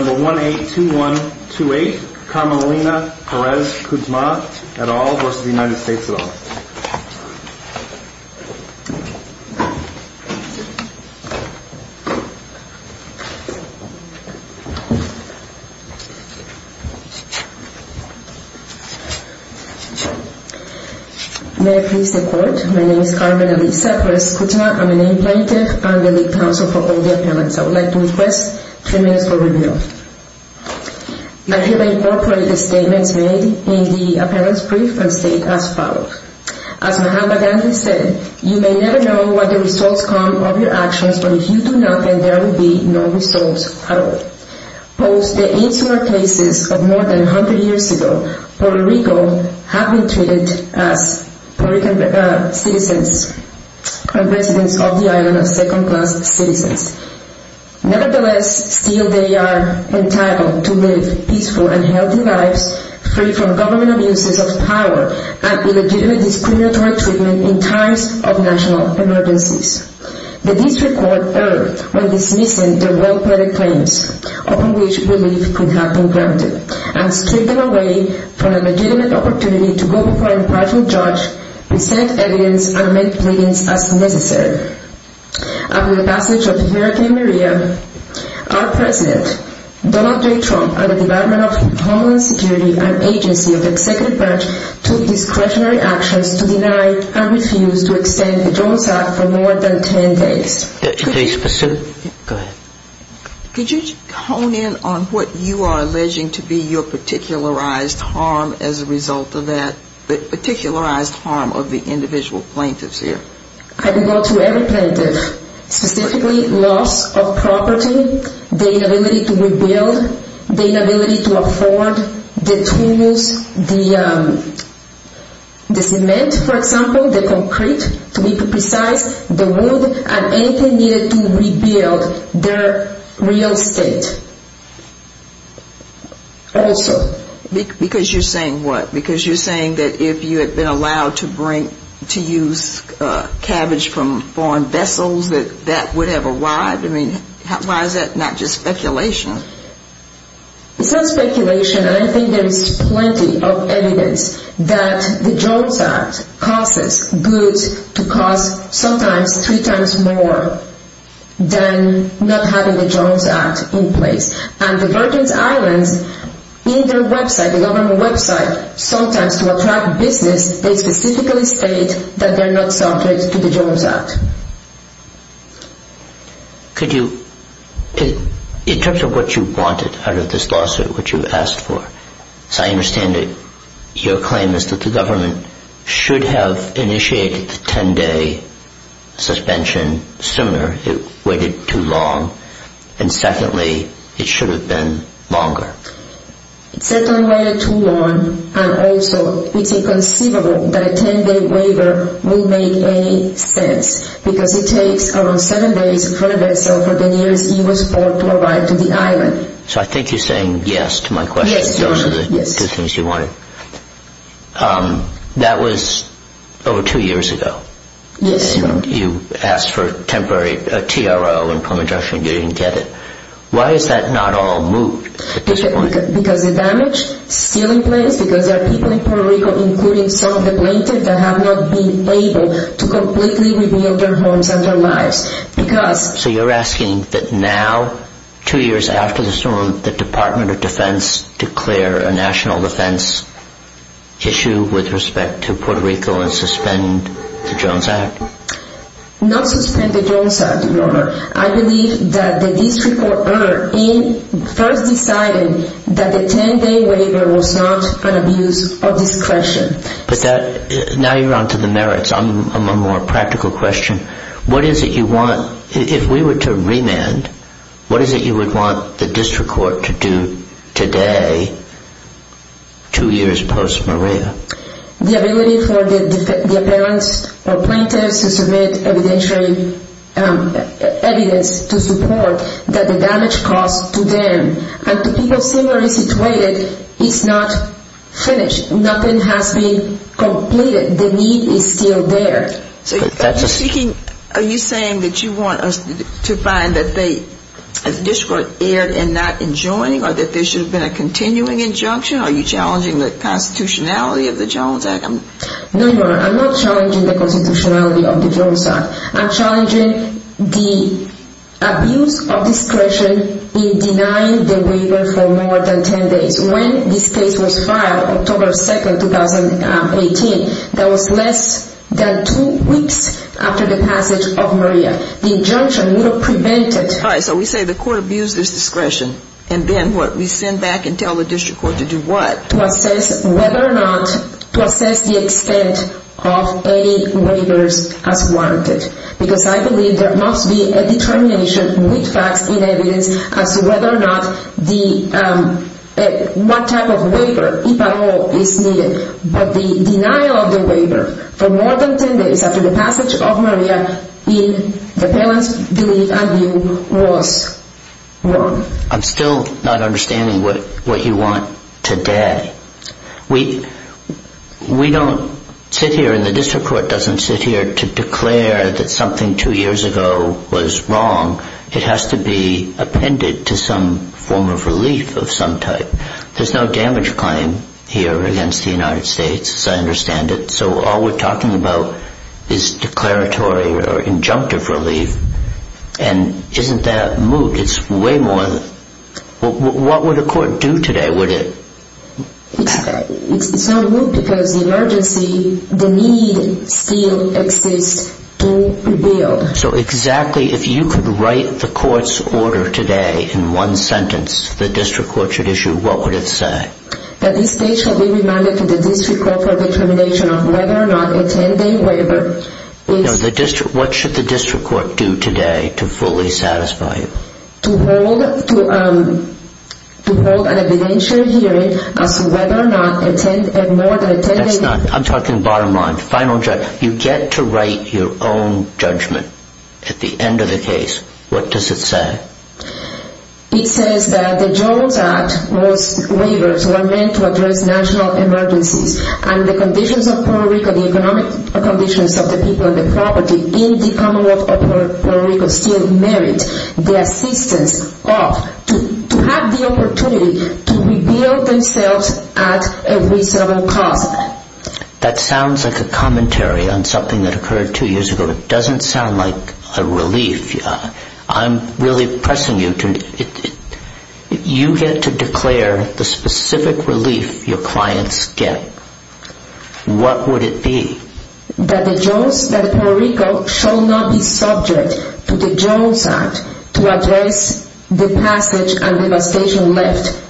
182128, Carmelina Perez-Kudzma et al. v. United States et al. May I please say a quote? My name is Carmelina Perez-Kudzma. I'm an aid plaintiff. I'm the lead counsel for all the appellants. I would like to request three minutes for review. I hereby incorporate the statements made in the appellant's brief and state as followed. As Mohamed Badanvi said, you may never know what the results come of your actions, but if you do not, then there will be no results at all. Post the insular cases of more than 100 years ago, Puerto Rico has been treated as Puerto Rican citizens, and residents of the island as second-class citizens. Nevertheless, still they are entitled to live peaceful and healthy lives, free from government abuses of power and illegitimate discriminatory treatment in times of national emergencies. The district court erred when dismissing the well-planned claims upon which relief could have been granted, and stripped them away from a legitimate opportunity to go before an impartial judge, present evidence, and make pleadings as necessary. After the passage of Hurricane Maria, our president, Donald J. Trump, and the Department of Homeland Security and agency of the executive branch took discretionary actions to deny and refuse to extend the Jones Act for more than 10 days. Could you hone in on what you are alleging to be your particularized harm as a result of that? The particularized harm of the individual plaintiffs here? I would go to every plaintiff, specifically loss of property, the inability to rebuild, the inability to afford the tools, the cement, for example, the concrete, to be precise, the wood, and anything needed to rebuild their real estate. Also. Because you're saying what? Because you're saying that if you had been allowed to bring, to use cabbage from foreign vessels, that that would have arrived? I mean, why is that not just speculation? It's not speculation. I think there's plenty of evidence that the Jones Act causes goods to cost sometimes three times more than not having the Jones Act in place. And the Virgin Islands, in their website, the government website, sometimes to attract business, they specifically state that they're not subject to the Jones Act. Could you, in terms of what you wanted out of this lawsuit, what you asked for, as I understand it, your claim is that the government should have initiated the 10-day suspension sooner. It waited too long. And secondly, it should have been longer. It certainly waited too long. And also, it's inconceivable that a 10-day waiver would make any sense. Because it takes around seven days in front of the vessel for the nearest English port to arrive to the island. So I think you're saying yes to my question. Those are the two things you wanted. Yes. That was over two years ago. Yes. You asked for a temporary TRO in Puma Junction. You didn't get it. Why is that not all moved at this point? Because of damage still in place, because there are people in Puerto Rico, including some of the plaintiffs, that have not been able to completely rebuild their homes and their lives. So you're asking that now, two years after the storm, the Department of Defense declare a national defense issue with respect to Puerto Rico and suspend the Jones Act? Not suspend the Jones Act, Your Honor. I believe that the district court first decided that the 10-day waiver was not an abuse of discretion. But now you're on to the merits. I'm a more practical question. If we were to remand, what is it you would want the district court to do today, two years post Maria? The ability for the parents or plaintiffs to submit evidence to support that the damage caused to them and to people similarly situated is not finished. Nothing has been completed. The need is still there. Are you saying that you want us to find that the district court erred in not enjoining or that there should have been a continuing injunction? Are you challenging the constitutionality of the Jones Act? No, Your Honor. I'm not challenging the constitutionality of the Jones Act. I'm challenging the abuse of discretion in denying the waiver for more than 10 days. When this case was filed, October 2, 2018, that was less than two weeks after the passage of Maria. The injunction would have prevented... All right, so we say the court abused its discretion. And then what? We send back and tell the district court to do what? To assess whether or not, to assess the extent of any waivers as warranted. Because I believe there must be a determination with facts in evidence as to whether or not the... what type of waiver, if at all, is needed. But the denial of the waiver for more than 10 days after the passage of Maria in the parents' belief, I view, was wrong. I'm still not understanding what you want today. We don't sit here, and the district court doesn't sit here to declare that something two years ago was wrong. It has to be appended to some form of relief of some type. There's no damage claim here against the United States, as I understand it. So all we're talking about is declaratory or injunctive relief. And isn't that moot? It's way more... What would a court do today, would it? It's not moot because the emergency, the need still exists to rebuild. So exactly, if you could write the court's order today in one sentence, the district court should issue, what would it say? That this case shall be remanded to the district court for determination of whether or not a 10-day waiver is... What should the district court do today to fully satisfy you? To hold an evidentiary hearing as to whether or not a more than a 10-day... That's not... I'm talking bottom line, final judgment. You get to write your own judgment at the end of the case. What does it say? It says that the Jones Act, most waivers were meant to address national emergencies. And the conditions of Puerto Rico, the economic conditions of the people and the property in the Commonwealth of Puerto Rico still merit the assistance of, to have the opportunity to rebuild themselves at a reasonable cost. That sounds like a commentary on something that occurred two years ago. It doesn't sound like a relief. I'm really pressing you to... You get to declare the specific relief your clients get. What would it be? That the Jones, that Puerto Rico shall not be subject to the Jones Act to address the passage and devastation left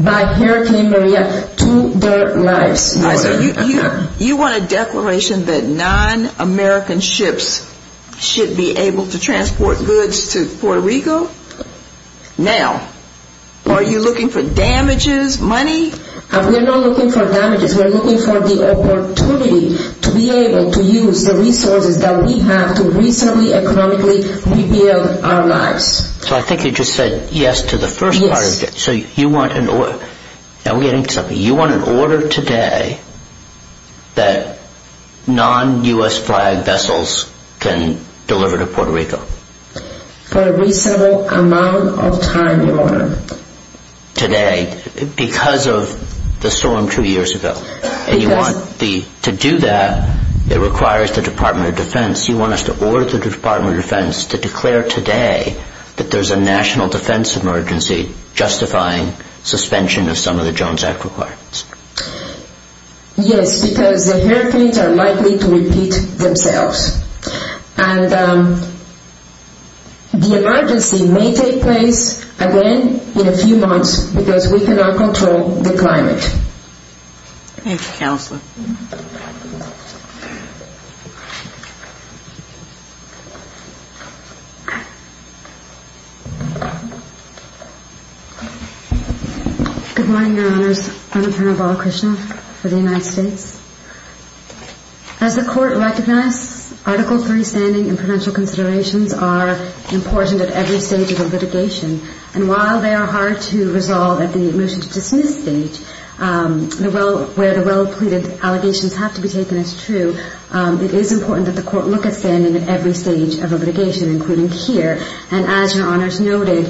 by Hurricane Maria to their lives. You want a declaration that non-American ships should be able to transport goods to Puerto Rico? Now, are you looking for damages, money? We're not looking for damages. We're looking for the opportunity to be able to use the resources that we have to reasonably economically rebuild our lives. So I think you just said yes to the first part of it. Yes. So you want an order... Are we getting to something? You want an order today that non-U.S. flag vessels can deliver to Puerto Rico? For a reasonable amount of time, Your Honor. Today, because of the storm two years ago. To do that, it requires the Department of Defense. You want us to order the Department of Defense to declare today that there's a national defense emergency justifying suspension of some of the Jones Act requirements. Yes, because the hurricanes are likely to repeat themselves. And the emergency may take place again in a few months because we cannot control the climate. Thank you, Counselor. My name is Anupama Balakrishnan for the United States. As the Court recognizes, Article III standing and prudential considerations are important at every stage of a litigation. And while they are hard to resolve at the motion to dismiss stage, where the well-pleaded allegations have to be taken as true, it is important that the Court look at standing at every stage of a litigation, including here. And as Your Honors noted,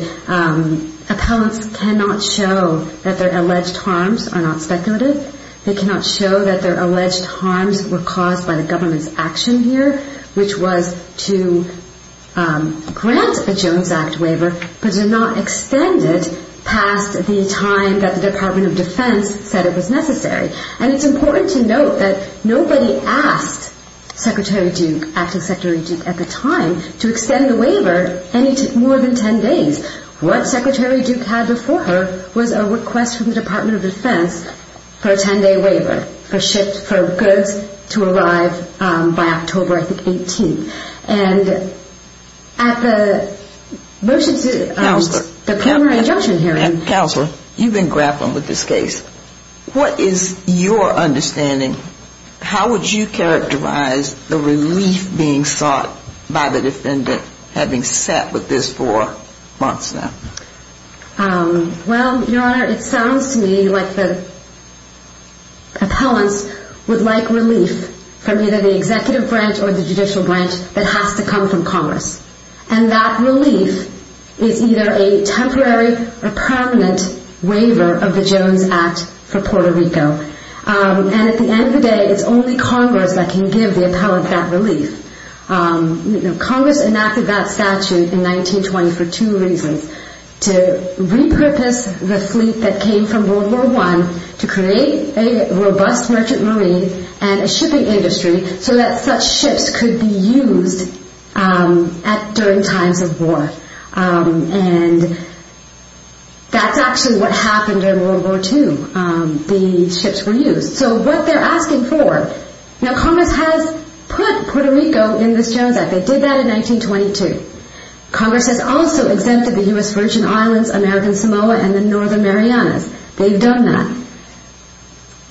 appellants cannot show that their alleged harms are not speculative. They cannot show that their alleged harms were caused by the government's action here, which was to grant a Jones Act waiver but to not extend it past the time that the Department of Defense said it was necessary. And it's important to note that nobody asked Secretary Duke, acting Secretary Duke at the time, to extend the waiver any more than 10 days. What Secretary Duke had before her was a request from the Department of Defense for a 10-day waiver for goods to arrive by October, I think, 18. And at the motion to the primary injunction hearing... With your understanding, how would you characterize the relief being sought by the defendant having sat with this for months now? Well, Your Honor, it sounds to me like the appellants would like relief from either the executive branch or the judicial branch that has to come from Congress. And that relief is either a temporary or permanent waiver of the Jones Act for Puerto Rico. And at the end of the day, it's only Congress that can give the appellant that relief. Congress enacted that statute in 1920 for two reasons. To repurpose the fleet that came from World War I to create a robust merchant marine and a shipping industry so that such ships could be used during times of war. And that's actually what happened in World War II. The ships were used. So what they're asking for... Now, Congress has put Puerto Rico in this Jones Act. They did that in 1922. Congress has also exempted the U.S. Virgin Islands, American Samoa, and the Northern Marianas. They've done that.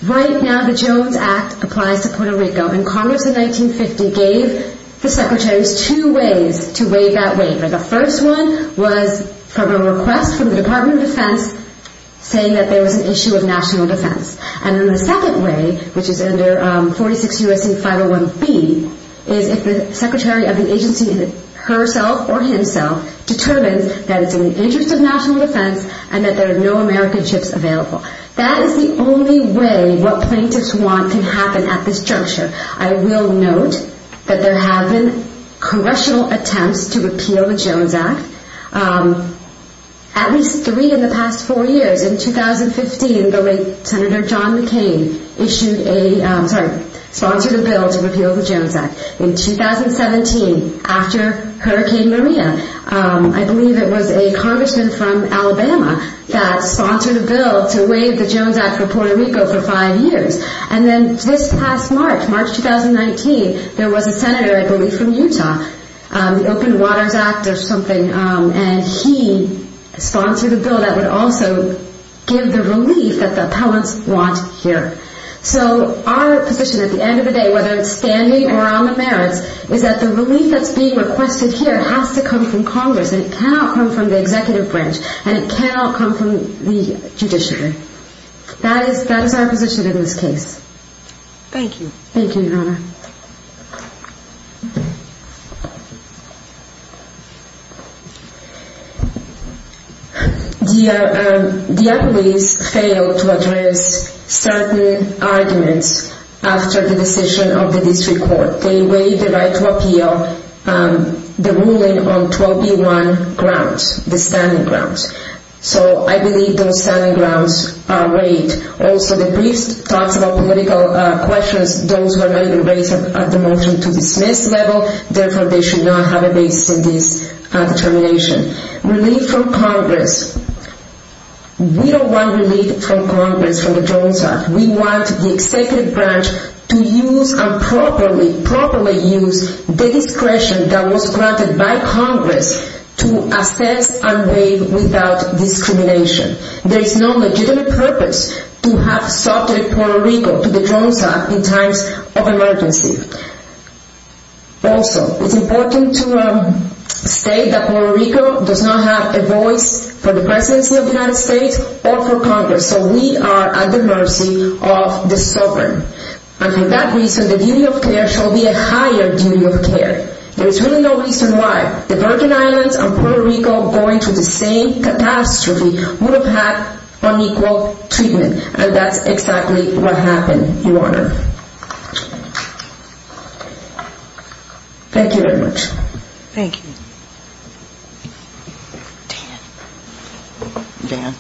Right now, the Jones Act applies to Puerto Rico. And Congress in 1950 gave the secretaries two ways to waive that weight. The first one was from a request from the Department of Defense saying that there was an issue of national defense. And then the second way, which is under 46 U.S.C. 501B, is if the secretary of the agency herself or himself determines that it's in the interest of national defense and that there are no American ships available. That is the only way what plaintiffs want can happen at this juncture. I will note that there have been congressional attempts to repeal the Jones Act. At least three in the past four years. In 2015, the late Senator John McCain sponsored a bill to repeal the Jones Act. In 2017, after Hurricane Maria, I believe it was a congressman from Alabama that sponsored a bill to waive the Jones Act for Puerto Rico for five years. And then just past March, March 2019, there was a senator, I believe from Utah, the Open Waters Act or something, and he sponsored a bill that would also give the relief that the appellants want here. So our position at the end of the day, whether it's standing or on the merits, is that the relief that's being requested here has to come from Congress. And it cannot come from the executive branch. And it cannot come from the judiciary. That is our position in this case. Thank you. Thank you, Your Honor. The appellants failed to address certain arguments after the decision of the district court. They waived the right to appeal the ruling on 12B1 grounds, the standing grounds. So I believe those standing grounds are waived. Also, the brief talks about political questions. Those were not even raised at the motion to dismiss level. Therefore, they should not have a base in this determination. Relief from Congress. We don't want relief from Congress, from the Jones Act. We want the executive branch to use and properly use the discretion that was granted by Congress to assess and waive without discrimination. There is no legitimate purpose to have subject Puerto Rico to the Jones Act in times of emergency. Also, it's important to state that Puerto Rico does not have a voice for the presidency of the United States or for Congress. So we are at the mercy of the sovereign. And for that reason, the duty of care shall be a higher duty of care. There is really no reason why the Virgin Islands and Puerto Rico going through the same catastrophe would have had unequal treatment. And that's exactly what happened, Your Honor. Thank you very much. Thank you. Dan. Dan. Dan.